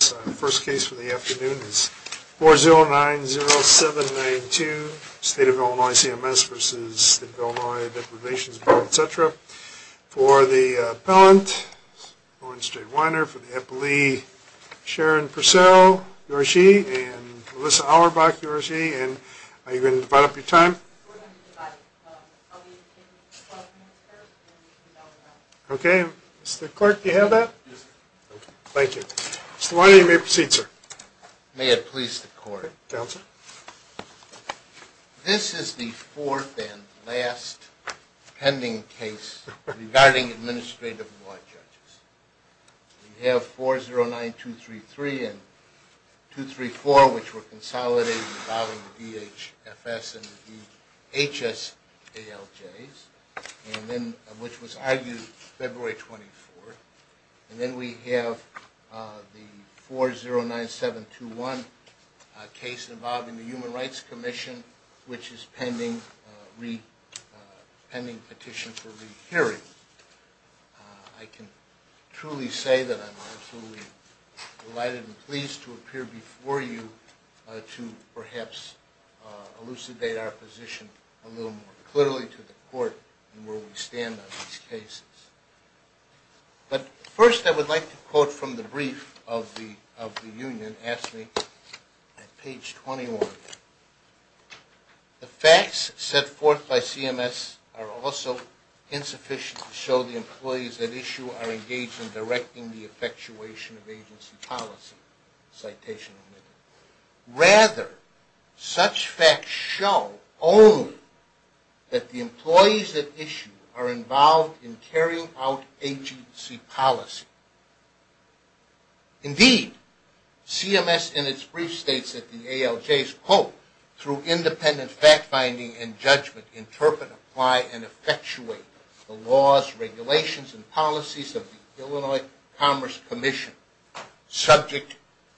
The first case for the afternoon is 4090792, State of Illinois CMS v. State of Illinois Labor Relations Board, etc. For the appellant, Owen Stradwiner. For the appellee, Sharon Purcell, you are she. And Alyssa Auerbach, you are she. And are you going to divide up your time? We're going to divide it. I'll be taking 12 minutes per, and you'll be taking an hour and a half. Okay. Mr. Clark, do you have that? Yes, sir. Thank you. Mr. Stradwiner, you may proceed, sir. May it please the court. Counsel. This is the fourth and last pending case regarding administrative law judges. We have 409233 and 234, which were consolidated involving DHFS and DHS ALJs, and then, which was argued February 24th. And then we have the 409721 case involving the Human Rights Commission, which is pending petition for rehearing. I can truly say that I'm absolutely delighted and pleased to appear before you to perhaps elucidate our position a little more clearly to the court and where we stand on these cases. But first, I would like to quote from the brief of the union asked me at page 21. The facts set forth by CMS are also insufficient to show the employees at issue are engaged in directing the effectuation of agency policy. Citation omitted. Rather, such facts show only that the employees at issue are involved in carrying out agency policy. Indeed, CMS in its brief states that the ALJs, quote,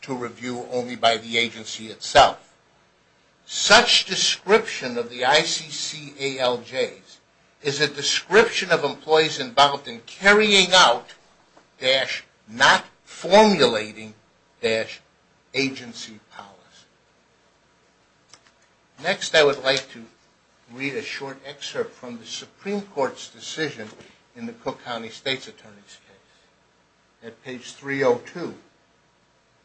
to review only by the agency itself. Such description of the ICC ALJs is a description of employees involved in carrying out, dash, not formulating, dash, agency policy. Next, I would like to read a short excerpt from the Supreme Court's decision in the Cook County State's Attorney's case. At page 302,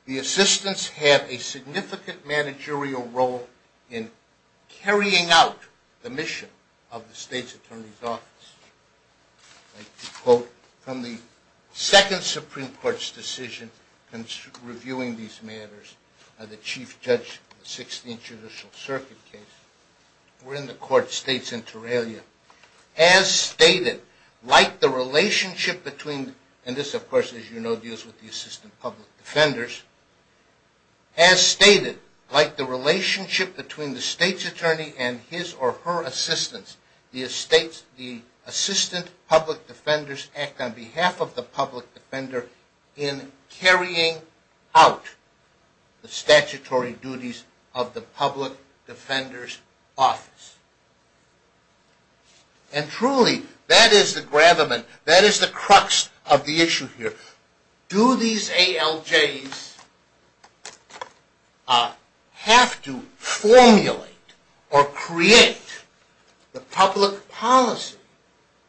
the assistants have a significant managerial role in carrying out the mission of the State's Attorney's Office. I'd like to quote from the second Supreme Court's decision in reviewing these matters by the Chief Judge in the 16th Judicial Circuit case. Wherein the court states in Terrelia, As stated, like the relationship between, and this of course, as you know, deals with the assistant public defenders. As stated, like the relationship between the State's Attorney and his or her assistants, the assistant public defenders act on behalf of the public defender in carrying out the statutory duties of the public defender's office. And truly, that is the gravamen, that is the crux of the issue here. Do these ALJs have to formulate or create the public policy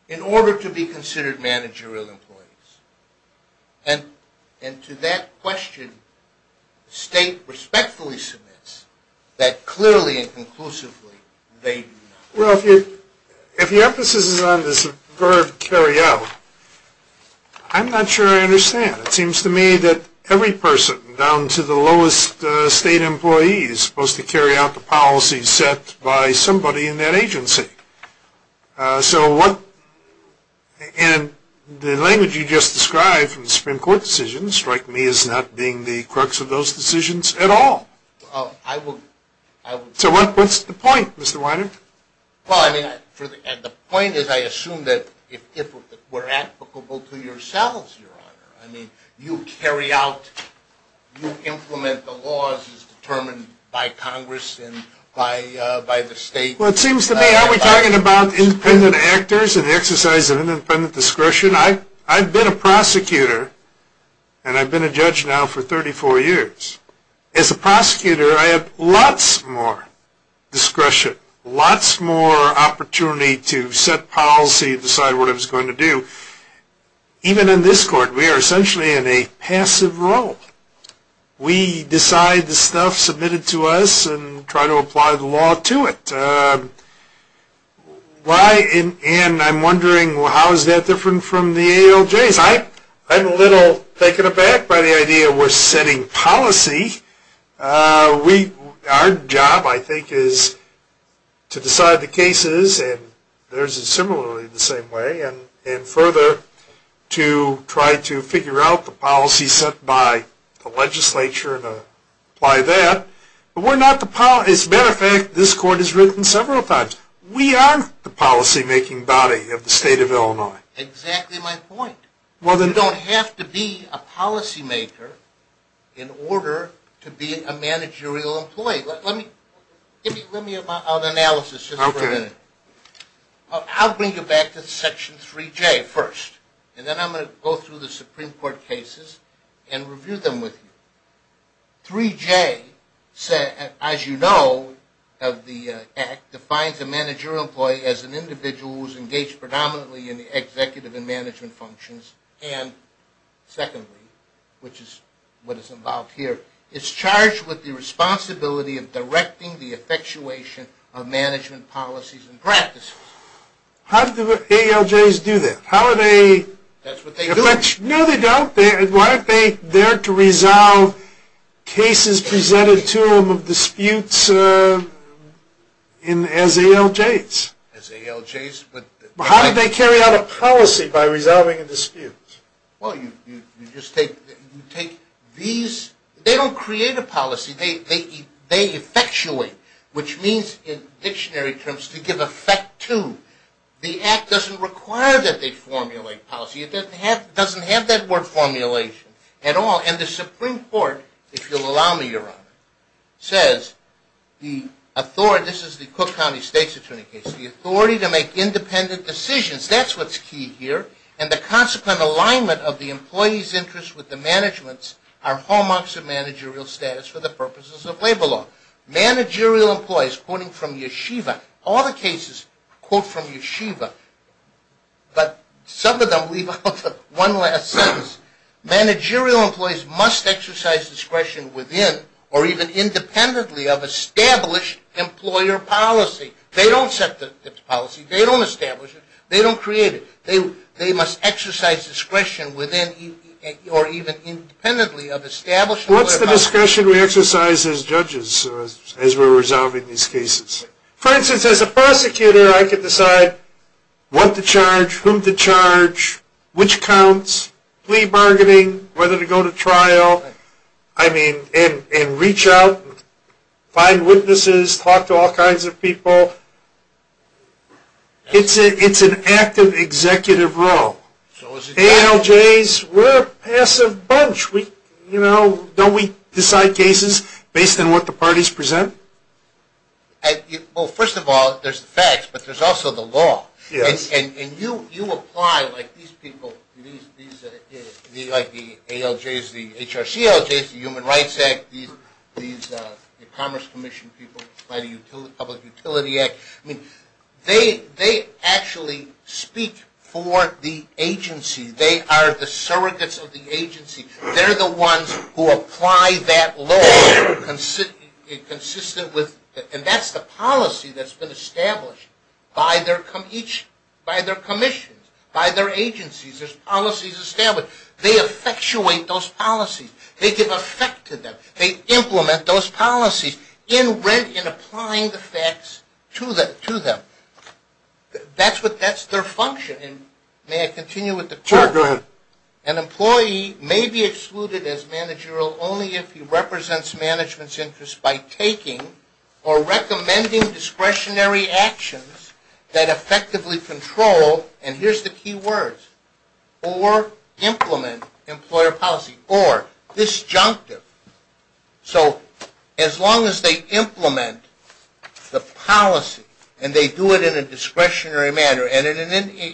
in order to be considered managerial employees? And to that question, the State respectfully submits that clearly and conclusively they do not. Well, if your emphasis is on this verb, carry out, I'm not sure I understand. It seems to me that every person down to the lowest state employee is supposed to carry out the policy set by somebody in that agency. So what, and the language you just described from the Supreme Court's decision strikes me as not being the crux of those decisions at all. So what's the point, Mr. Weiner? Well, I mean, the point is I assume that we're applicable to yourselves, Your Honor. I mean, you carry out, you implement the laws as determined by Congress and by the State. Well, it seems to me, are we talking about independent actors and the exercise of independent discretion? I've been a prosecutor and I've been a judge now for 34 years. As a prosecutor, I have lots more discretion, lots more opportunity to set policy, decide what it's going to do. Even in this court, we are essentially in a passive role. We decide the stuff submitted to us and try to apply the law to it. And I'm wondering how is that different from the ALJs? I'm a little taken aback by the idea we're setting policy. Our job, I think, is to decide the cases and theirs is similarly the same way and further to try to figure out the policy set by the legislature and apply that. But we're not the policy, as a matter of fact, this court has written several times. We are the policy making body of the State of Illinois. Exactly my point. You don't have to be a policy maker in order to be a managerial employee. Let me give you an analysis just for a minute. I'll bring you back to Section 3J first and then I'm going to go through the Supreme Court cases and review them with you. Section 3J, as you know, defines a managerial employee as an individual who is engaged predominantly in the executive and management functions and secondly, which is what is involved here, is charged with the responsibility of directing the effectuation of management policies and practices. How do the ALJs do that? That's what they do. No, they don't. Why aren't they there to resolve cases presented to them of disputes as ALJs? As ALJs? How do they carry out a policy by resolving a dispute? Well, you just take these, they don't create a policy, they effectuate, which means in dictionary terms to give effect to. The act doesn't require that they formulate policy. It doesn't have that word formulation at all. And the Supreme Court, if you'll allow me, Your Honor, says the authority, this is the Cook County State's attorney case, the authority to make independent decisions, that's what's key here. And the consequent alignment of the employee's interest with the management's are hallmarks of managerial status for the purposes of labor law. Managerial employees, quoting from Yeshiva, all the cases quote from Yeshiva, but some of them leave out one last sentence. Managerial employees must exercise discretion within or even independently of established employer policy. They don't set the policy, they don't establish it, they don't create it. They must exercise discretion within or even independently of established employer policy. That's the discussion we exercise as judges as we're resolving these cases. For instance, as a prosecutor I can decide what to charge, whom to charge, which counts, plea bargaining, whether to go to trial. I mean, and reach out, find witnesses, talk to all kinds of people. It's an active executive role. ALJs, we're a passive bunch. You know, don't we decide cases based on what the parties present? Well, first of all, there's the facts, but there's also the law. And you apply like these people, like the ALJs, the HRCLJs, the Human Rights Act, these Commerce Commission people, Public Utility Act, I mean, they actually speak for the agency. They are the surrogates of the agency. They're the ones who apply that law consistent with, and that's the policy that's been established by their commissions, by their agencies. There's policies established. They effectuate those policies. They give effect to them. They implement those policies in applying the facts to them. That's their function. And may I continue with the question? Sure, go ahead. An employee may be excluded as managerial only if he represents management's interests by taking or recommending discretionary actions that effectively control, and here's the key words, or implement employer policy, or disjunctive. So as long as they implement the policy and they do it in a discretionary manner and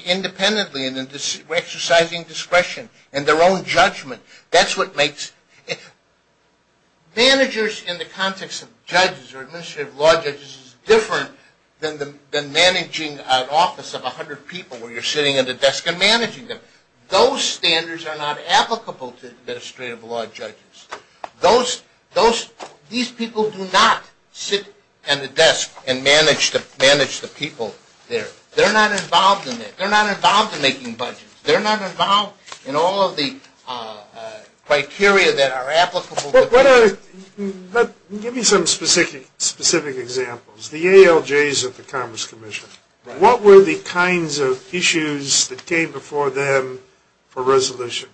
independently and exercising discretion and their own judgment, that's what makes managers in the context of judges or administrative law judges different than managing an office of 100 people where you're sitting at a desk and managing them. Those standards are not applicable to administrative law judges. These people do not sit at a desk and manage the people there. They're not involved in that. They're not involved in making budgets. They're not involved in all of the criteria that are applicable. Give me some specific examples. The ALJs at the Commerce Commission. What were the kinds of issues that came before them for resolution?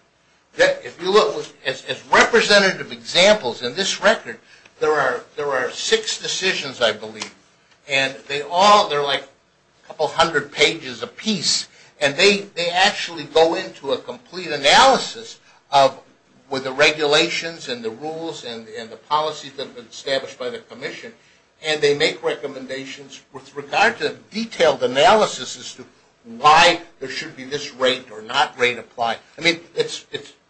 If you look at representative examples in this record, there are six decisions, I believe, and they're like a couple hundred pages apiece, and they actually go into a complete analysis with the regulations and the rules and the policies that have been established by the commission, and they make recommendations with regard to detailed analysis as to why there should be this rate or not rate applied. I mean,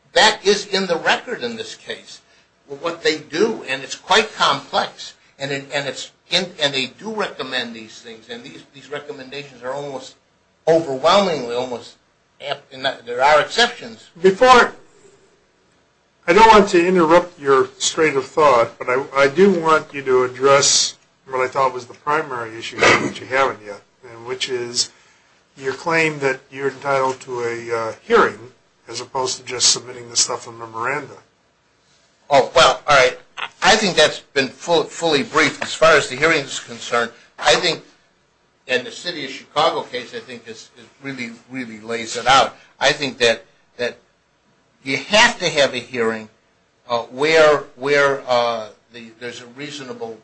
that is in the record in this case, what they do, and it's quite complex, and they do recommend these things, and these recommendations are almost overwhelmingly almost, and there are exceptions. Before, I don't want to interrupt your straight of thought, but I do want you to address what I thought was the primary issue, which you haven't yet, and which is your claim that you're entitled to a hearing as opposed to just submitting the stuff in memoranda. Oh, well, all right. I think that's been fully briefed as far as the hearing is concerned. I think in the city of Chicago case, I think this really, really lays it out. I think that you have to have a hearing where there's a reasonable,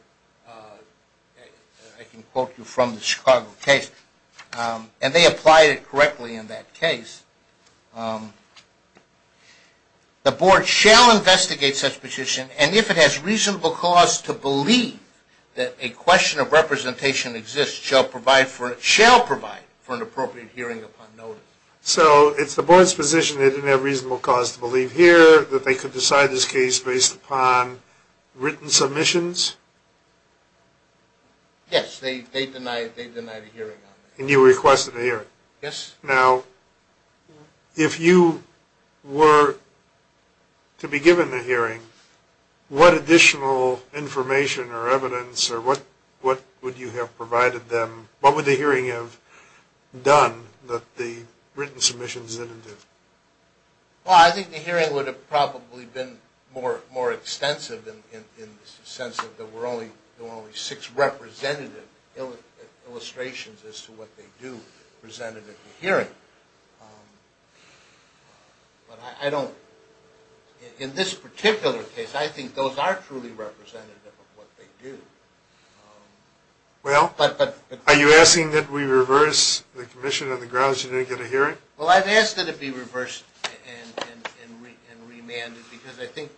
I can quote you from the Chicago case, and they applied it correctly in that case. The board shall investigate such position, and if it has reasonable cause to believe that a question of representation exists, shall provide for an appropriate hearing upon notice. So it's the board's position they didn't have reasonable cause to believe here, that they could decide this case based upon written submissions? Yes, they denied a hearing on that. And you requested a hearing? Yes. Now, if you were to be given a hearing, what additional information or evidence or what would you have provided them, what would the hearing have done that the written submissions didn't do? Well, I think the hearing would have probably been more extensive in the sense that there were only six representative illustrations as to what they do presented at the hearing. But I don't, in this particular case, I think those are truly representative of what they do. Well, are you asking that we reverse the commission on the grounds you didn't get a hearing? Well, I've asked that it be reversed and remanded, because I think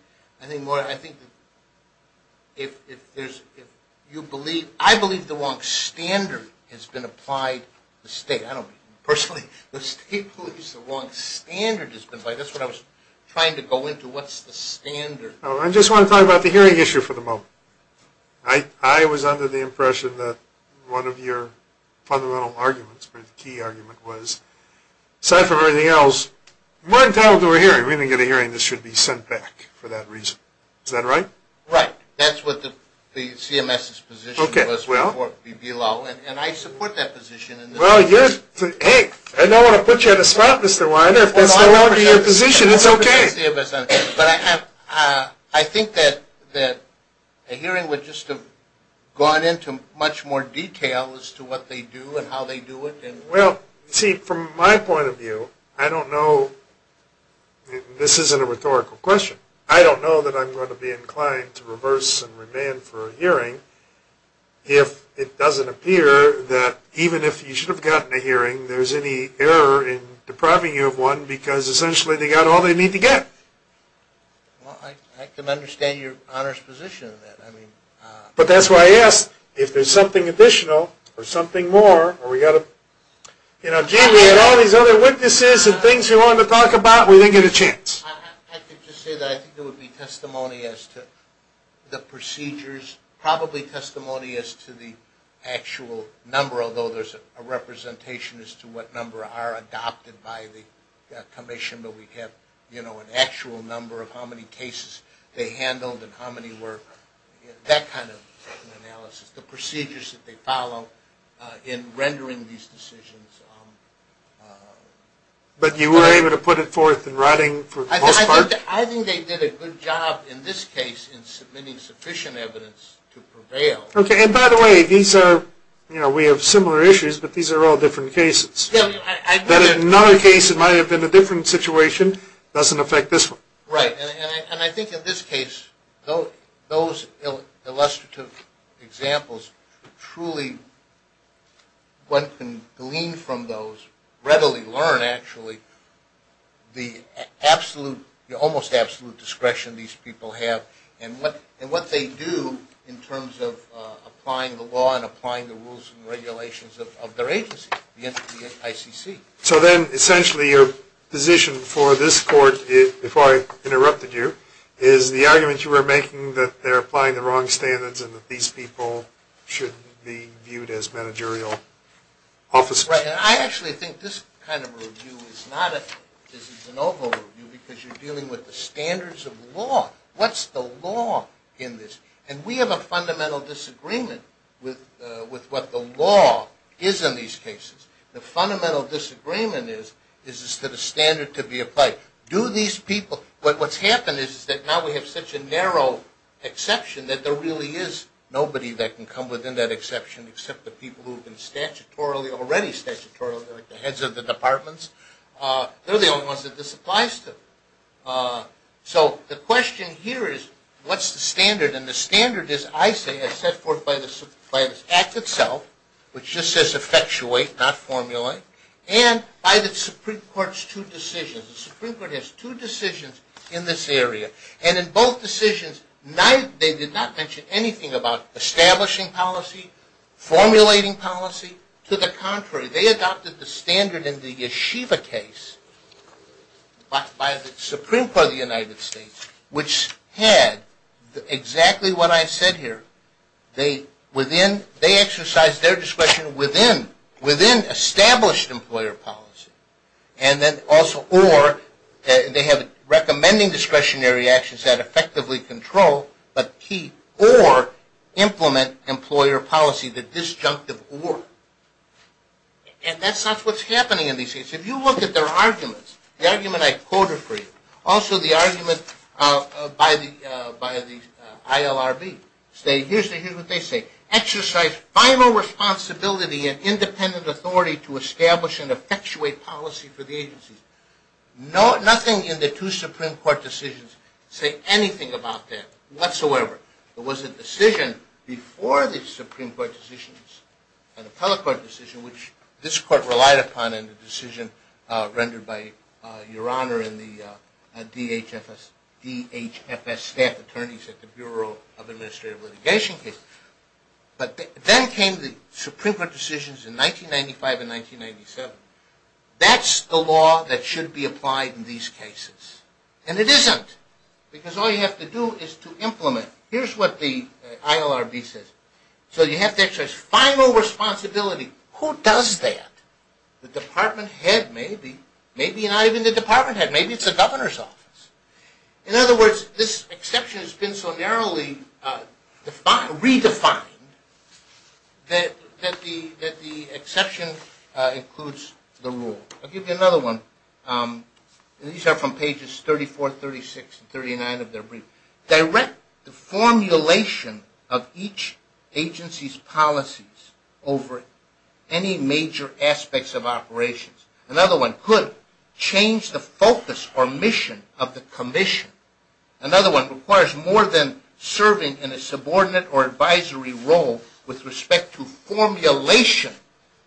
if you believe, I believe the wrong standard has been applied, the state, I don't personally, the state believes the wrong standard has been applied. That's what I was trying to go into, what's the standard? I just want to talk about the hearing issue for the moment. I was under the impression that one of your fundamental arguments, the key argument was, aside from everything else, we're entitled to a hearing. We're going to get a hearing that should be sent back for that reason. Is that right? Right. That's what the CMS's position was before BBLO, and I support that position. Well, hey, I don't want to put you in a spot, Mr. Weiner, if that's no longer your position, it's okay. But I think that a hearing would just have gone into much more detail as to what they do and how they do it. Well, see, from my point of view, I don't know, this isn't a rhetorical question, I don't know that I'm going to be inclined to reverse and remand for a hearing if it doesn't appear that even if you should have gotten a hearing, there's any error in depriving you of one because essentially they got all they need to get. Well, I can understand your honest position. But that's why I asked, if there's something additional or something more, you know, Gene, we had all these other witnesses and things we wanted to talk about, we didn't get a chance. I could just say that I think there would be testimony as to the procedures, probably testimony as to the actual number, although there's a representation as to what number are adopted by the commission, but we have, you know, an actual number of how many cases they handled and how many were, that kind of analysis. The procedures that they follow in rendering these decisions. But you were able to put it forth in writing for the most part? I think they did a good job in this case in submitting sufficient evidence to prevail. Okay. And by the way, these are, you know, we have similar issues, but these are all different cases. In another case it might have been a different situation, it doesn't affect this one. Right. And I think in this case, those illustrative examples truly, one can glean from those, readily learn actually, the absolute, almost absolute discretion these people have and what they do in terms of applying the law and applying the rules and regulations of their agency, the ICC. So then essentially your position for this court, before I interrupted you, is the argument you were making that they're applying the wrong standards and that these people should be viewed as managerial officers. Right, and I actually think this kind of review is not a, this is an oval review, because you're dealing with the standards of law. What's the law in this? And we have a fundamental disagreement with what the law is in these cases. The fundamental disagreement is, is it a standard to be applied? Do these people, what's happened is that now we have such a narrow exception that there really is nobody that can come within that exception except the people who have been statutorily, already statutorily, like the heads of the departments. They're the only ones that this applies to. So the question here is, what's the standard? And the standard is, I say, is set forth by the Act itself, which just says effectuate, not formulate, and by the Supreme Court's two decisions. The Supreme Court has two decisions in this area. And in both decisions they did not mention anything about establishing policy, formulating policy. To the contrary, they adopted the standard in the Yeshiva case by the Supreme Court of the United States, which had exactly what I said here. They within, they exercised their discretion within, within established employer policy. And then also or, they have recommending discretionary actions that effectively control but keep or implement employer policy, the disjunctive or. And that's not what's happening in these cases. If you look at their arguments, the argument I quoted for you, also the argument by the ILRB. Here's what they say. Exercise final responsibility and independent authority to establish and effectuate policy for the agencies. Nothing in the two Supreme Court decisions say anything about that whatsoever. It was a decision before the Supreme Court decisions and the public court decision which this court relied upon and the decision rendered by Your Honor and the DHFS staff attorneys at the Bureau of Administrative Litigation. But then came the Supreme Court decisions in 1995 and 1997. That's the law that should be applied in these cases. And it isn't because all you have to do is to implement. Here's what the ILRB says. So you have to exercise final responsibility. Who does that? The department head maybe. Maybe not even the department head. Maybe it's the governor's office. In other words, this exception has been so narrowly redefined that the exception includes the rule. I'll give you another one. These are from pages 34, 36, and 39 of their brief. Direct the formulation of each agency's policies over any major aspects of operations. Another one. Could change the focus or mission of the commission. Another one. Requires more than serving in a subordinate or advisory role with respect to formulation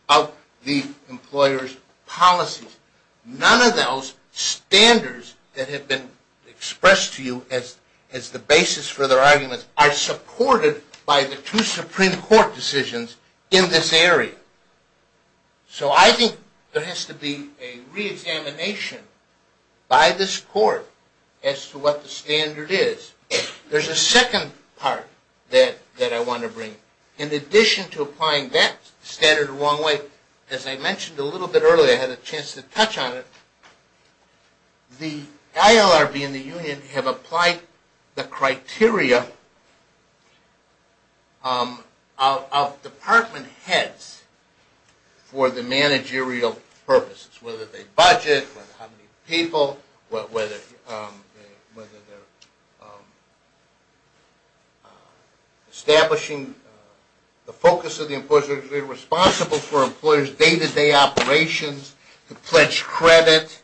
of the employer's policies. None of those standards that have been expressed to you as the basis for their arguments are supported by the two Supreme Court decisions in this area. So I think there has to be a reexamination by this court as to what the standard is. There's a second part that I want to bring. In addition to applying that standard the wrong way, as I mentioned a little bit earlier, I had a chance to touch on it, the ILRB and the union have applied the criteria of department heads for the managerial purposes, whether they budget, whether how many people, whether they're establishing the focus of the employer's responsibility for employer's day-to-day operations, to pledge credit,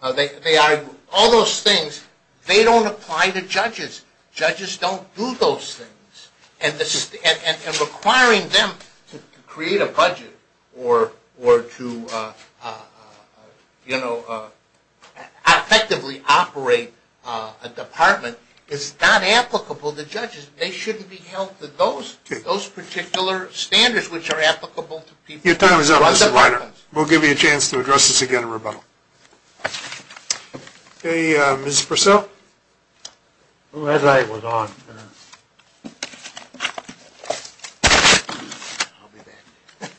all those things. They don't apply to judges. Judges don't do those things. And requiring them to create a budget or to effectively operate a department is not applicable to judges. They shouldn't be held to those particular standards which are applicable to people. Your time is up, Mr. Reiner. We'll give you a chance to address this again in rebuttal. Ms. Purcell? Your time is up. The red light was on. I'll be back.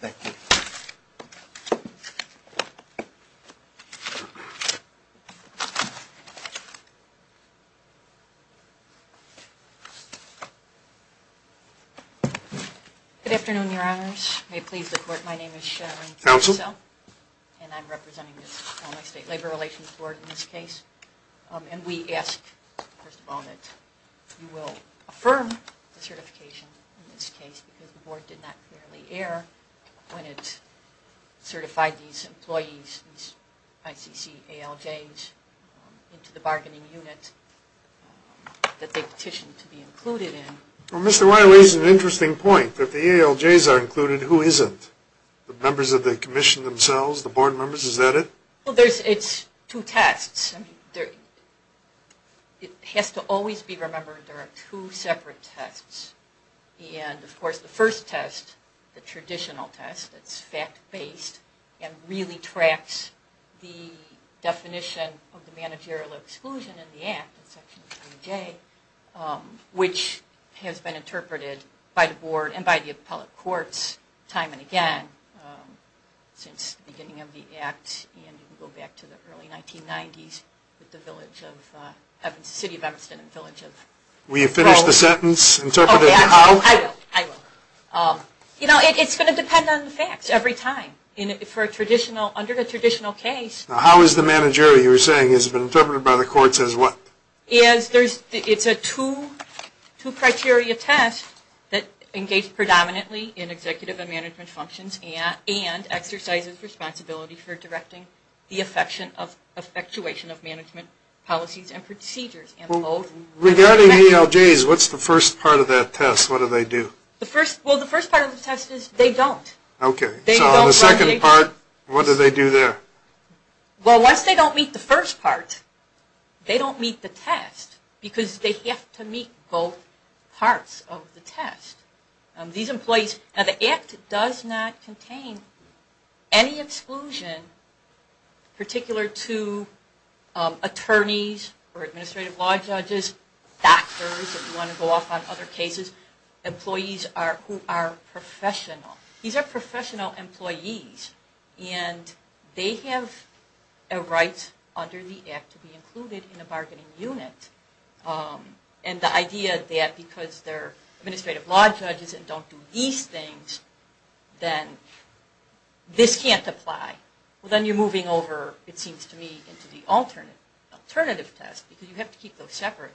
Thank you. Good afternoon, Your Honors. My name is Sharon Purcell. And I'm representing the state labor relations board in this case. And we ask, first of all, that you will affirm the certification in this case, because the board did not clearly err when it certified these employees, these ICC ALJs into the bargaining unit that they petitioned to be included in. Well, Mr. Reiner raises an interesting point. If the ALJs are included, who isn't? The members of the commission themselves? The board members? Is that it? Well, it's two tests. It has to always be remembered there are two separate tests. And, of course, the first test, the traditional test that's fact-based, and really tracks the definition of the managerial exclusion in the act, in section 3J, which has been interpreted by the board and by the appellate courts time and again since the beginning of the act and you can go back to the early 1990s with the city of Emerson and village of... Will you finish the sentence? I will. You know, it's going to depend on the facts every time. Under the traditional case... Now, how is the managerial, you were saying, has been interpreted by the courts as what? It's a two-criteria test that engages predominantly in executive and management functions and exercises responsibility for directing the effectuation of management policies and procedures. Regarding ALJs, what's the first part of that test? What do they do? Well, the first part of the test is they don't. Okay. So the second part, what do they do there? Well, once they don't meet the first part, they don't meet the test because they have to meet both parts of the test. These employees... Now, the act does not contain any exclusion, particular to attorneys or administrative law judges, doctors, if you want to go off on other cases, employees who are professional. These are professional employees, and they have a right under the act to be included in a bargaining unit. And the idea that because they're administrative law judges and don't do these things, then this can't apply. Well, then you're moving over, it seems to me, into the alternative test because you have to keep those separate.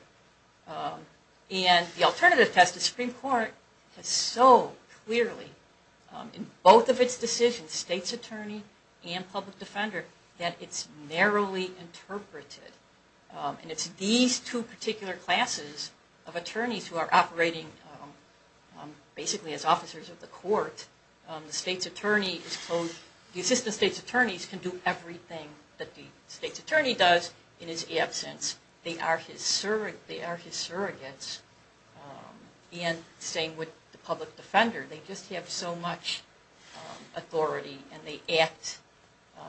And the alternative test, the Supreme Court has so clearly, in both of its decisions, state's attorney and public defender, that it's narrowly interpreted. And it's these two particular classes of attorneys who are operating basically as officers of the court. The assistant state's attorney can do everything that the state's attorney does in his absence. They are his surrogates. And the same with the public defender. They just have so much authority, and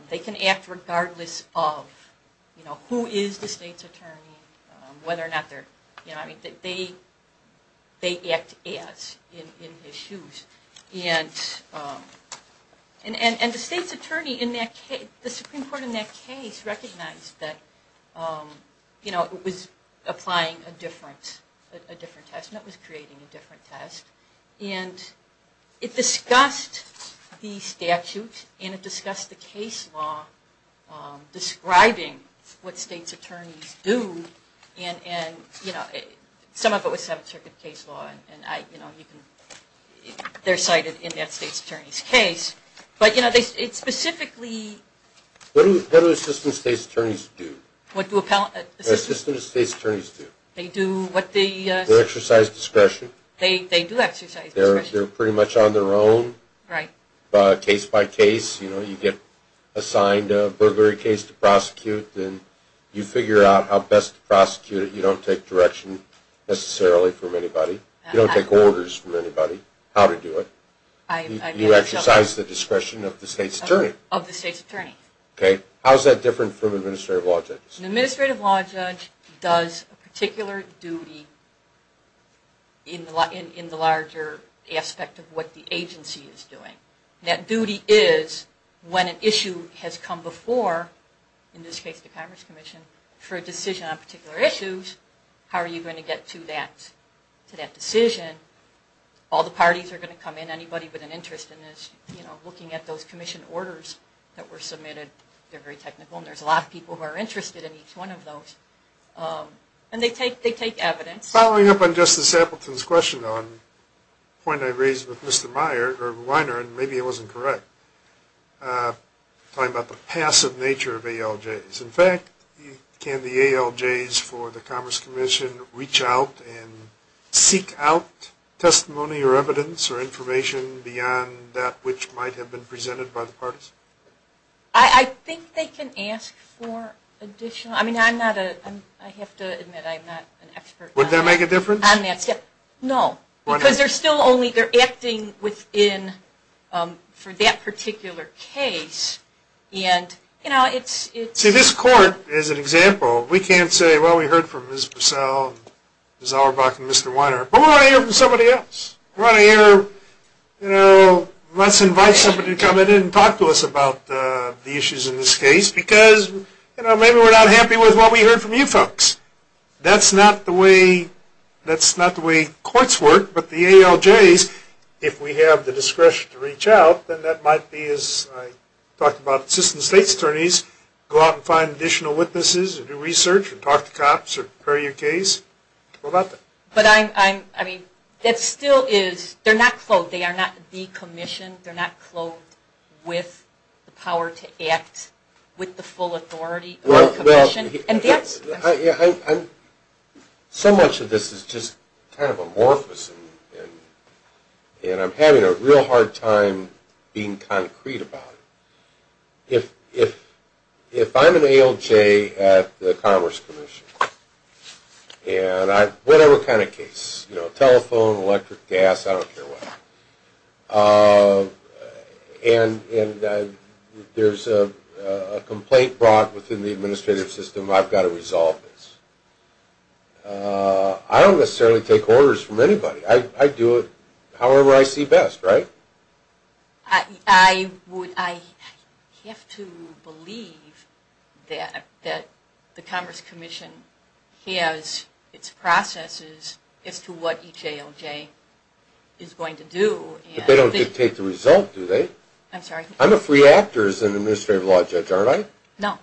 they can act regardless of who is the state's attorney, whether or not they're... They act as, in his shoes. And the state's attorney in that case, the Supreme Court in that case, recognized that it was applying a different test, and it was creating a different test. And it discussed the statute, and it discussed the case law describing what state's attorneys do. And some of it was Seventh Circuit case law, and they're cited in that state's attorney's case. But it specifically... What do assistant state's attorneys do? What do assistant state's attorneys do? They do what they... They exercise discretion. They do exercise discretion. They're pretty much on their own. Right. Case by case, you know, you get assigned a burglary case to prosecute, and you figure out how best to prosecute it. You don't take direction necessarily from anybody. You don't take orders from anybody how to do it. You exercise the discretion of the state's attorney. Of the state's attorney. Okay. How is that different from administrative law judges? An administrative law judge does a particular duty in the larger aspect of what the agency is doing. That duty is when an issue has come before, in this case the Commerce Commission, for a decision on particular issues, how are you going to get to that decision? All the parties are going to come in. Anybody with an interest in this, you know, looking at those commission orders that were submitted. They're very technical, and there's a lot of people who are interested in each one of those. And they take evidence. Following up on Justice Appleton's question, the point I raised with Mr. Weiner, and maybe it wasn't correct, talking about the passive nature of ALJs. In fact, can the ALJs for the Commerce Commission reach out and seek out testimony or evidence or information beyond that which might have been presented by the parties? I think they can ask for additional. I mean, I have to admit I'm not an expert. Would that make a difference? No, because they're still only acting for that particular case. See, this court is an example. We can't say, well, we heard from Ms. Purcell, Ms. Auerbach, and Mr. Weiner, but we want to hear from somebody else. We want to hear, you know, let's invite somebody to come in and talk to us about the issues in this case, because, you know, maybe we're not happy with what we heard from you folks. That's not the way courts work, but the ALJs, if we have the discretion to reach out, then that might be, as I talked about, assistant state's attorneys go out and find additional witnesses and do research and talk to cops or prepare your case. What about that? But I mean, that still is, they're not clothed. They are not decommissioned. They're not clothed with the power to act with the full authority. Well, so much of this is just kind of amorphous, and I'm having a real hard time being concrete about it. If I'm an ALJ at the Commerce Commission, and whatever kind of case, you know, telephone, electric, gas, I don't care what, and there's a complaint brought within the administrative system, I've got to resolve this. I don't necessarily take orders from anybody. I do it however I see best, right? I have to believe that the Commerce Commission has its processes as to what each ALJ is going to do. But they don't dictate the result, do they? I'm sorry? I'm a free actor as an administrative law judge, aren't I? No.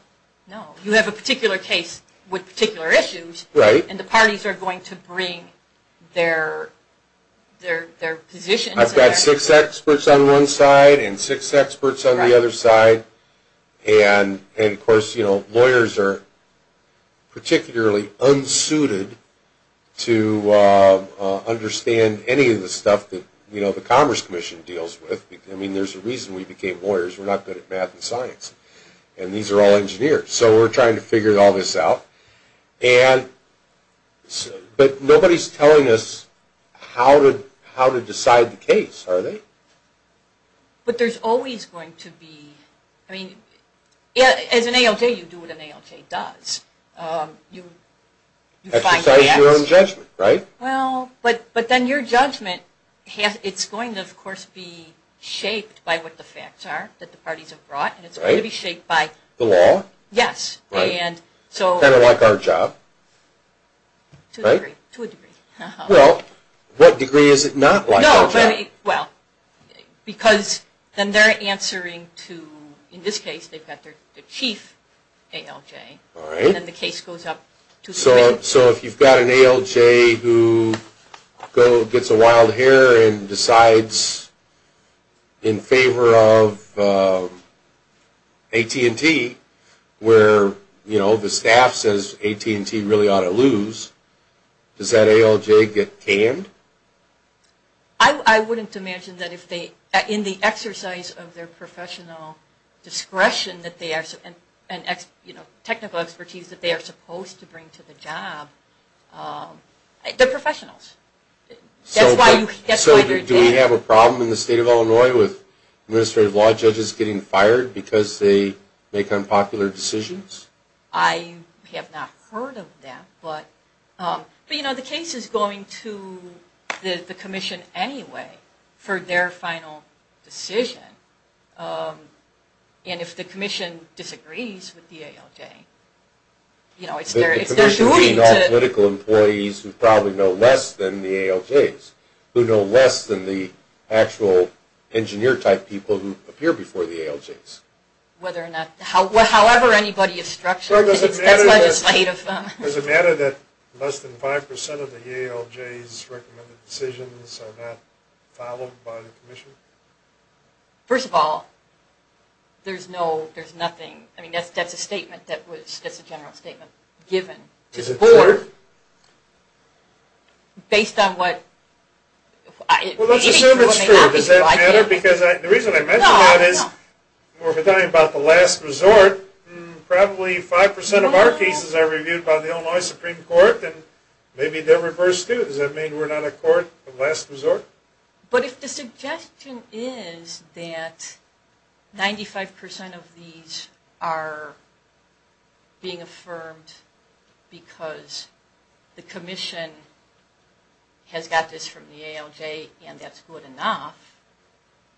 No. You have a particular case with particular issues, and the parties are going to bring their positions. I've got six experts on one side and six experts on the other side, and, of course, you know, lawyers are particularly unsuited to understand any of the stuff that, you know, the Commerce Commission deals with. I mean, there's a reason we became lawyers. We're not good at math and science, and these are all engineers. So we're trying to figure all this out, but nobody's telling us how to decide the case, are they? But there's always going to be – I mean, as an ALJ, you do what an ALJ does. You find facts. Exercise your own judgment, right? Well, but then your judgment, it's going to, of course, be shaped by what the facts are that the parties have brought, and it's going to be shaped by – The law? Yes, and so – Kind of like our job? To a degree. Well, what degree is it not like our job? No, but – well, because then they're answering to – in this case, they've got their chief ALJ. All right. And then the case goes up to – So if you've got an ALJ who gets a wild hair and decides in favor of AT&T, where, you know, the staff says AT&T really ought to lose, does that ALJ get canned? I wouldn't imagine that if they – in the exercise of their professional discretion that they are – and, you know, technical expertise that they are supposed to bring to the job. They're professionals. That's why you're – So do we have a problem in the state of Illinois with administrative law judges getting fired because they make unpopular decisions? I have not heard of that, but, you know, the case is going to the commission anyway for their final decision. And if the commission disagrees with the ALJ, you know, it's their duty to – The commission being all political employees who probably know less than the ALJs, who know less than the actual engineer-type people who appear before the ALJs. Whether or not – however anybody is structured, that's legislative. Does it matter that less than 5% of the ALJs' recommended decisions are not followed by the commission? First of all, there's no – there's nothing – I mean, that's a statement that was – that's a general statement given to the board. Based on what – Well, let's assume it's true. Does that matter? Because the reason I mention that is – We're not the last resort. Probably 5% of our cases are reviewed by the Illinois Supreme Court, and maybe they're reversed too. Does that mean we're not a court of last resort? But if the suggestion is that 95% of these are being affirmed because the commission has got this from the ALJ and that's good enough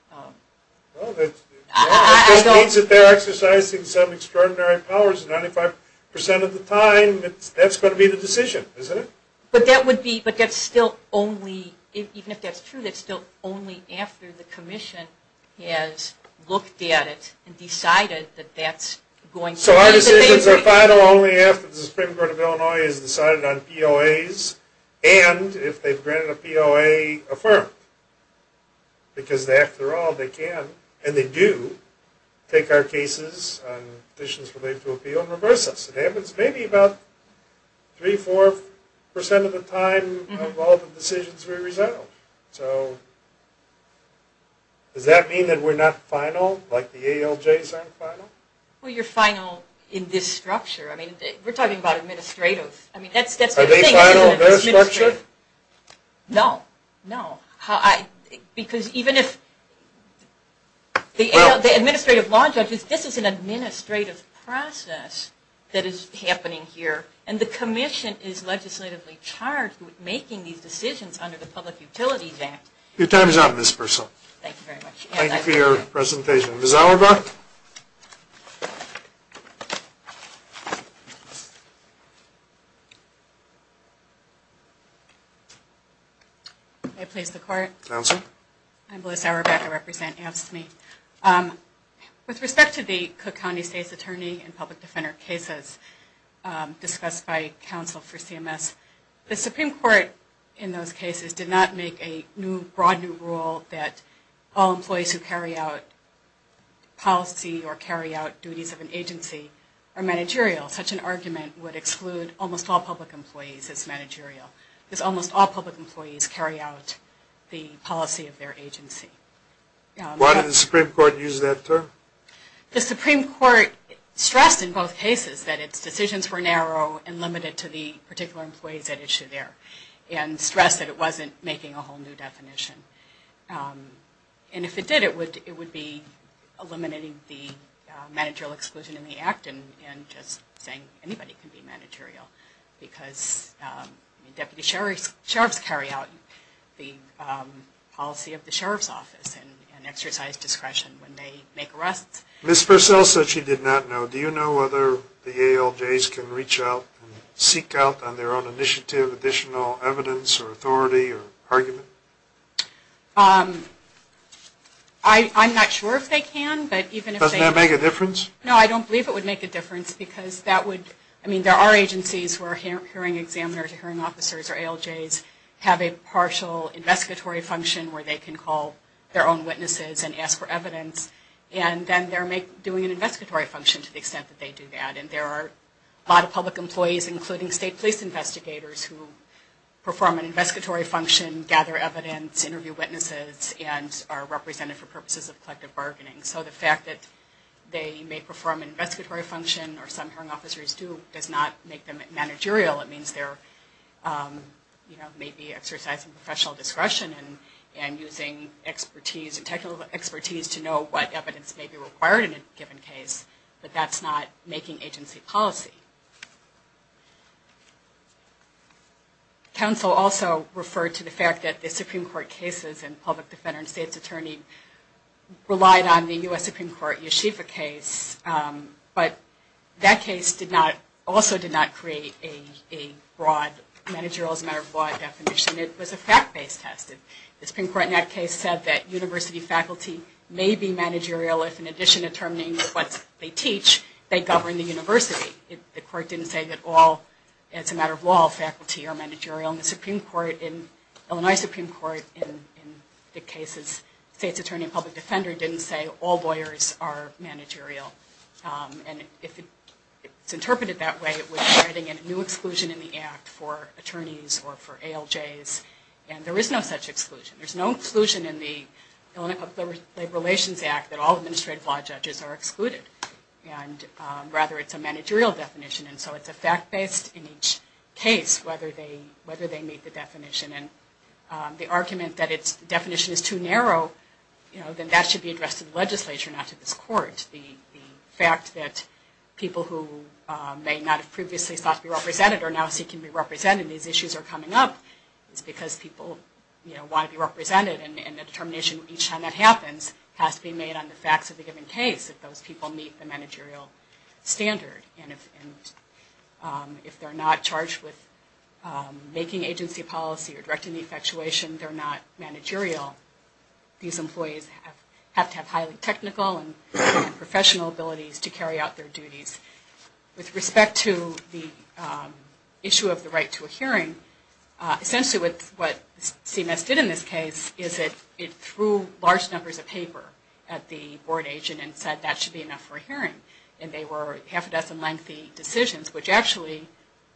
– Well, that just means that they're exercising some extraordinary powers 95% of the time. That's going to be the decision, isn't it? But that would be – but that's still only – even if that's true, that's still only after the commission has looked at it and decided that that's going to be – So our decisions are final only after the Supreme Court of Illinois has decided on POAs and if they've granted a POA affirmed. Because after all, they can – and they do – take our cases on petitions related to appeal and reverse us. It happens maybe about 3%, 4% of the time of all the decisions we resolve. So does that mean that we're not final like the ALJs aren't final? Well, you're final in this structure. I mean, we're talking about administrative. Are they final in their structure? No. No? No. Because even if – the Administrative Law Judges, this is an administrative process that is happening here and the commission is legislatively charged with making these decisions under the Public Utilities Act. Your time is up, Ms. Purcell. Thank you very much. Thank you for your presentation. Ms. Auerbach? May I please the court? Counsel? I'm Melissa Auerbach. I represent AFSCME. With respect to the Cook County State's Attorney and Public Defender cases discussed by counsel for CMS, the Supreme Court in those cases did not make a new, broad new rule that all employees who carry out policy or carry out duties of an agency are managerial. Such an argument would exclude almost all public employees as managerial. Because almost all public employees carry out the policy of their agency. Why did the Supreme Court use that term? The Supreme Court stressed in both cases that its decisions were narrow and limited to the particular employees at issue there and stressed that it wasn't making a whole new definition. And if it did, it would be eliminating the managerial exclusion in the act and just saying anybody can be managerial. Because deputy sheriffs carry out the policy of the sheriff's office and exercise discretion when they make arrests. Ms. Purcell said she did not know. Do you know whether the ALJs can reach out and seek out on their own initiative additional evidence or authority or argument? I'm not sure if they can. Doesn't that make a difference? No, I don't believe it would make a difference because that would, I mean there are agencies where hearing examiners or hearing officers or ALJs have a partial investigatory function where they can call their own witnesses and ask for evidence. And then they're doing an investigatory function to the extent that they do that. And there are a lot of public employees, including state police investigators, who perform an investigatory function, gather evidence, interview witnesses, and are represented for purposes of collective bargaining. So the fact that they may perform an investigatory function or some hearing officers do does not make them managerial. It means they're maybe exercising professional discretion and using expertise, technical expertise, to know what evidence may be required in a given case. But that's not making agency policy. Counsel also referred to the fact that the Supreme Court cases and public defender and state's attorney relied on the U.S. Supreme Court Yeshiva case. But that case also did not create a broad managerial as a matter of law definition. It was a fact-based test. The Supreme Court in that case said that university faculty may be managerial if in addition to determining what they teach, they govern the university. The court didn't say that all, as a matter of law, faculty are managerial. Along the Supreme Court, in Illinois Supreme Court, in the cases state's attorney and public defender didn't say all lawyers are managerial. And if it's interpreted that way, it would be writing a new exclusion in the act for attorneys or for ALJs. And there is no such exclusion. There's no exclusion in the Labor Relations Act that all administrative law judges are excluded. And rather, it's a managerial definition. And so it's a fact-based in each case whether they meet the definition. And the argument that its definition is too narrow, then that should be addressed to the legislature, not to this court. The fact that people who may not have previously thought to be represented are now seeking to be represented. These issues are coming up. It's because people want to be represented. And the determination each time that happens has to be made on the facts of the given case if those people meet the managerial standard. And if they're not charged with making agency policy or directing the infatuation, they're not managerial. These employees have to have highly technical and professional abilities to carry out their duties. With respect to the issue of the right to a hearing, essentially what CMS did in this case is it threw large numbers of paper at the board agent and said that should be enough for a hearing. And they were half a dozen lengthy decisions, which actually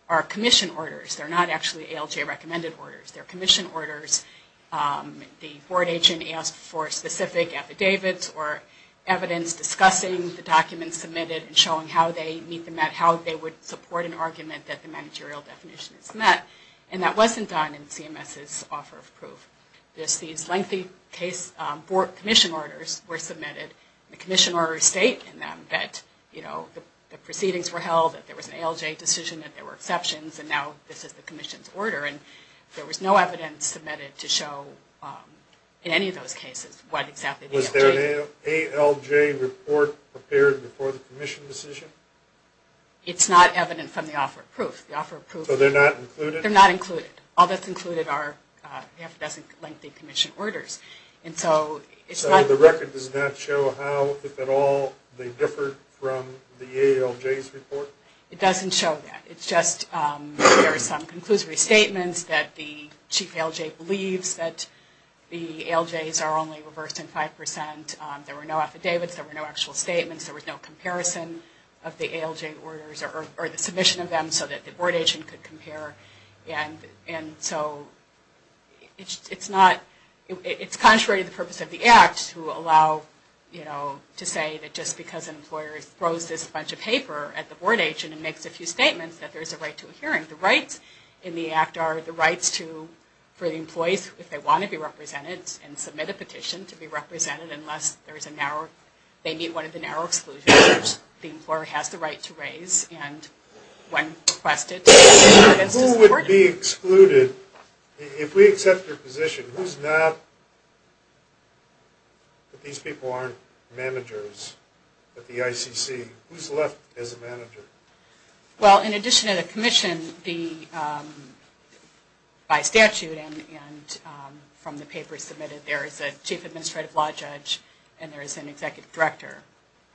are commission orders. They're not actually ALJ recommended orders. They're commission orders. The board agent asked for specific affidavits or evidence discussing the documents submitted and showing how they would support an argument that the managerial definition is met. And that wasn't done in CMS's offer of proof. These lengthy commission orders were submitted. The commission orders state in them that the proceedings were held, that there was an ALJ decision, that there were exceptions, and now this is the commission's order. And there was no evidence submitted to show in any of those cases what exactly the ALJ was. Was there an ALJ report prepared before the commission decision? It's not evident from the offer of proof. So they're not included? They're not included. All that's included are the half a dozen lengthy commission orders. So the record does not show how, if at all, they differed from the ALJ's report? It doesn't show that. It's just there are some conclusory statements that the chief ALJ believes that the ALJs are only reversed in 5%. There were no affidavits. There were no actual statements. There was no comparison of the ALJ orders or the submission of them so that the board agent could compare. And so it's not, it's contrary to the purpose of the Act to allow, you know, to say that just because an employer throws this bunch of paper at the board agent and makes a few statements that there's a right to a hearing. The rights in the Act are the rights to, for the employees, if they want to be represented and submit a petition to be represented, unless there's a narrow, they meet one of the narrow exclusions the employer has the right to raise. Who would be excluded? If we accept your position, who's not, if these people aren't managers at the ICC, who's left as a manager? Well, in addition to the commission, the, by statute and from the papers submitted, there is a chief administrative law judge and there is an executive director.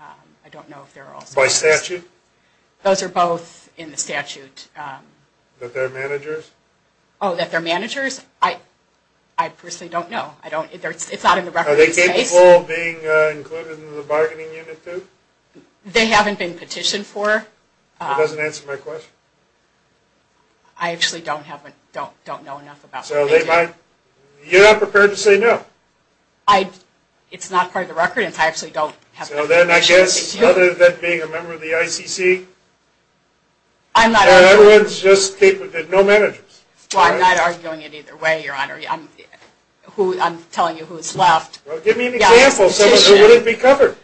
I don't know if there are also others. By statute? Those are both in the statute. That they're managers? Oh, that they're managers? I personally don't know. I don't, it's not in the record. Are they capable of being included in the bargaining unit, too? They haven't been petitioned for. That doesn't answer my question. I actually don't have, don't know enough about that. So they might, you're not prepared to say no? I, it's not part of the record. So then I guess, other than being a member of the ICC, everyone's just, no managers? Well, I'm not arguing it either way, Your Honor. I'm telling you who's left. Well, give me an example of someone who wouldn't be covered.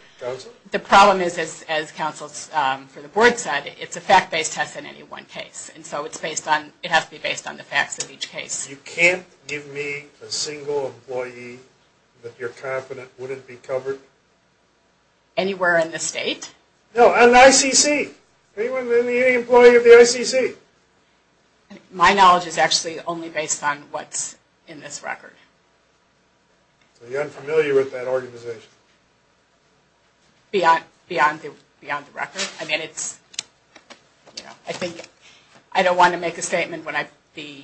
The problem is, as counsel for the board said, it's a fact-based test in any one case. And so it's based on, it has to be based on the facts of each case. You can't give me a single employee that you're confident wouldn't be covered? Anywhere in the state? No, in the ICC. Anyone, any employee of the ICC? My knowledge is actually only based on what's in this record. So you're unfamiliar with that organization? Beyond the record. I mean, it's, you know, I think, I don't want to make a statement when I, the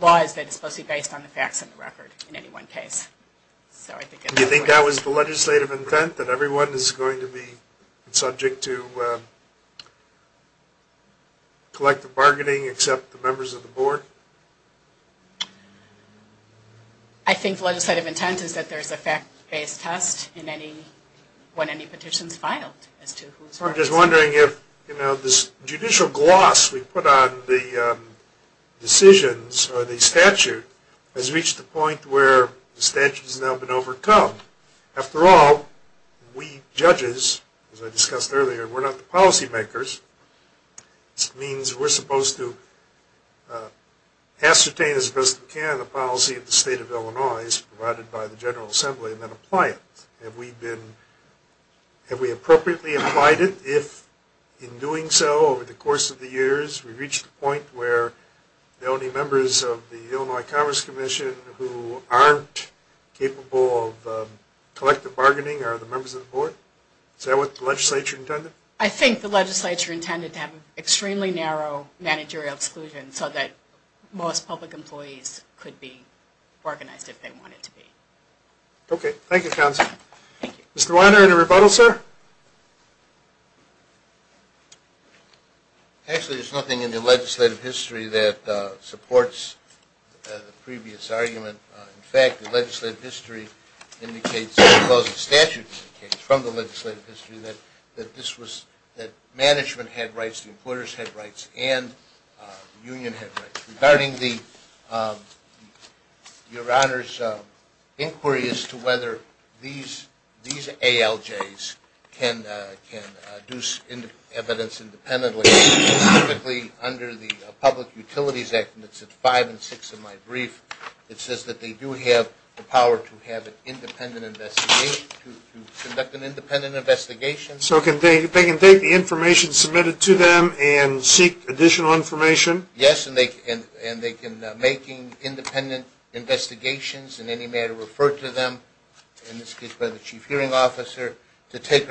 law is that it's supposed to be based on the facts of the record in any one case. Do you think that was the legislative intent, that everyone is going to be subject to collective bargaining except the members of the board? I think the legislative intent is that there's a fact-based test in any, when any petition is filed. I'm just wondering if, you know, this judicial gloss we put on the decisions or the statute has reached the point where the statute has now been overcome. After all, we judges, as I discussed earlier, we're not the policy makers. This means we're supposed to ascertain as best we can the policy of the state of Illinois as provided by the General Assembly and then apply it. Have we been, have we appropriately applied it? If in doing so, over the course of the years, we've reached the point where the only members of the Illinois Commerce Commission who aren't capable of collective bargaining are the members of the board? Is that what the legislature intended? I think the legislature intended to have an extremely narrow managerial exclusion so that most public employees could be organized if they wanted to be. Okay. Thank you, counsel. Mr. Weiner, any rebuttal, sir? Actually, there's nothing in the legislative history that supports the previous argument. In fact, the legislative history indicates, the closing statute indicates from the legislative history that this was, that management had rights, the employers had rights, and the union had rights. Regarding your Honor's inquiry as to whether these ALJs can do evidence independently, specifically under the Public Utilities Act, and it's at five and six in my brief, it says that they do have the power to have an independent investigation, to conduct an independent investigation. So they can take the information submitted to them and seek additional information? Yes, and they can make independent investigations in any manner referred to them, in this case by the Chief Hearing Officer, to take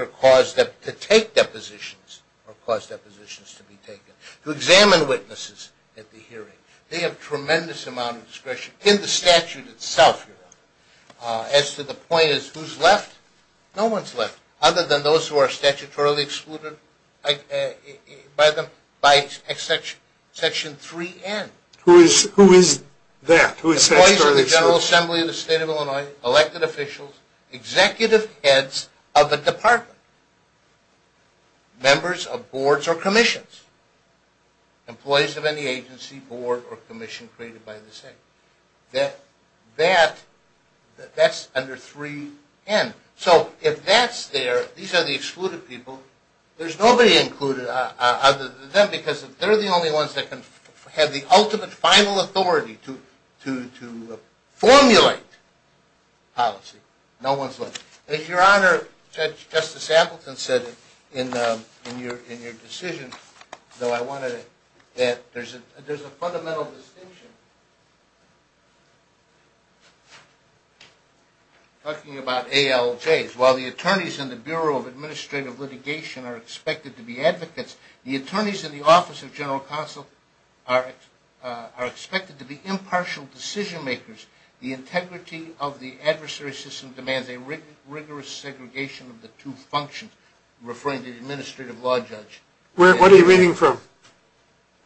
depositions or cause depositions to be taken, to examine witnesses at the hearing. They have tremendous amount of discretion in the statute itself. As to the point as to who's left, no one's left, other than those who are statutorily excluded by Section 3N. Who is that? Employees of the General Assembly of the State of Illinois, elected officials, executive heads of a department, members of boards or commissions, employees of any agency, board, or commission created by the state. That's under 3N. So if that's there, these are the excluded people, there's nobody included other than them, because they're the only ones that can have the ultimate final authority to formulate policy. No one's left. Your Honor, Justice Appleton said in your decision, though I wanted it, that there's a fundamental distinction. Talking about ALJs, while the attorneys in the Bureau of Administrative Litigation are expected to be advocates, the attorneys in the Office of General Counsel are expected to be impartial decision makers. The integrity of the adversary system demands a rigorous segregation of the two functions, referring to the Administrative Law Judge. What are you reading from?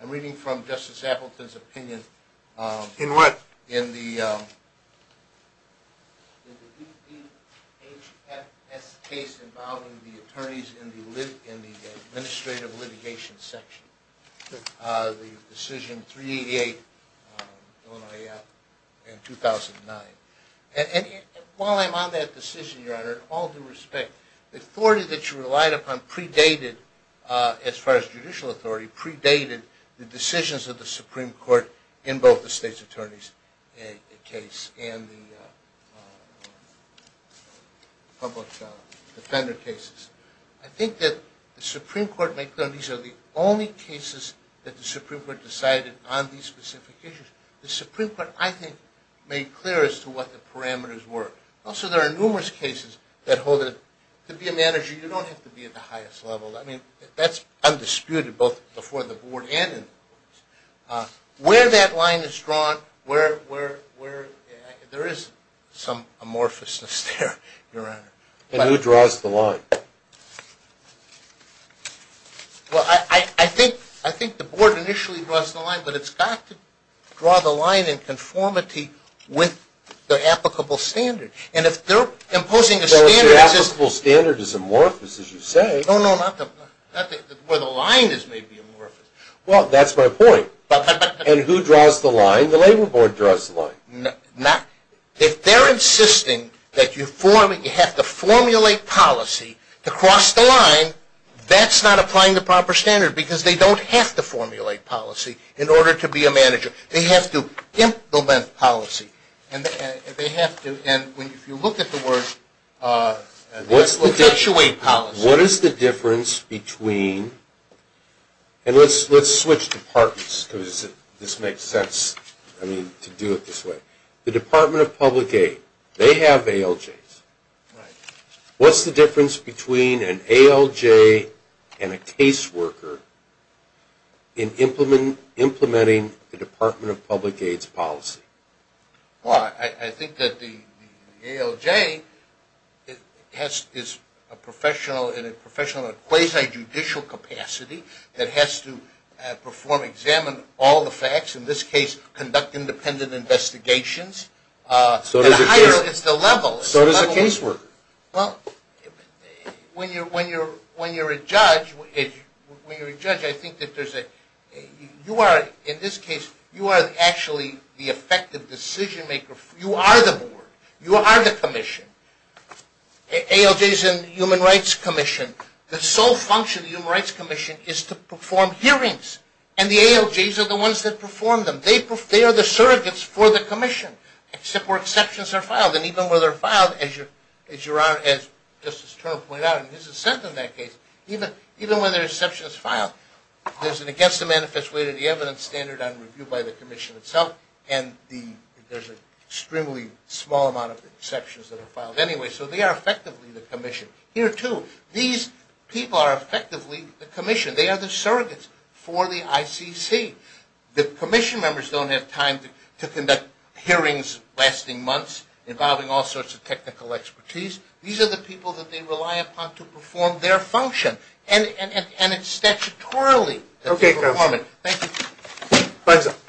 I'm reading from Justice Appleton's opinion. In what? In the DHS case involving the attorneys in the Administrative Litigation section, the decision 388, Illinois Act, in 2009. While I'm on that decision, Your Honor, all due respect, the authority that you relied upon predated, as far as judicial authority, predated the decisions of the Supreme Court in both the state's attorneys' case and the public defender cases. I think that the Supreme Court made clear that these are the only cases that the Supreme Court decided on these specific issues. The Supreme Court, I think, made clear as to what the parameters were. Also, there are numerous cases that hold that to be a manager, you don't have to be at the highest level. I mean, that's undisputed, both before the Board and in the courts. Where that line is drawn, there is some amorphousness there, Your Honor. And who draws the line? Well, I think the Board initially draws the line, but it's got to draw the line in conformity with the applicable standard. And if they're imposing a standard, Whereas the applicable standard is amorphous, as you say. No, no, not where the line is maybe amorphous. Well, that's my point. And who draws the line? The Labor Board draws the line. If they're insisting that you have to formulate policy to cross the line, that's not applying the proper standard because they don't have to formulate policy in order to be a manager. They have to implement policy. And if you look at the words, What is the difference between, and let's switch departments because this makes sense to do it this way. The Department of Public Aid, they have ALJs. What's the difference between an ALJ and a caseworker in implementing the Department of Public Aid's policy? Well, I think that the ALJ is a professional in a quasi-judicial capacity that has to perform, examine all the facts, in this case, conduct independent investigations. So does the caseworker. Well, when you're a judge, I think that you are, in this case, you are actually the effective decision maker. You are the board. You are the commission. ALJs and the Human Rights Commission, the sole function of the Human Rights Commission is to perform hearings. And the ALJs are the ones that perform them. They are the surrogates for the commission, except where exceptions are filed. And even where they're filed, as Justice Turner pointed out, and this is set in that case, even where there are exceptions filed, there's an against the manifest way to the evidence standard on review by the commission itself, and there's an extremely small amount of exceptions that are filed. Anyway, so they are effectively the commission. Here, too, these people are effectively the commission. They are the surrogates for the ICC. The commission members don't have time to conduct hearings lasting months involving all sorts of technical expertise. These are the people that they rely upon to perform their function, and it's statutorily that they perform it. Thank you.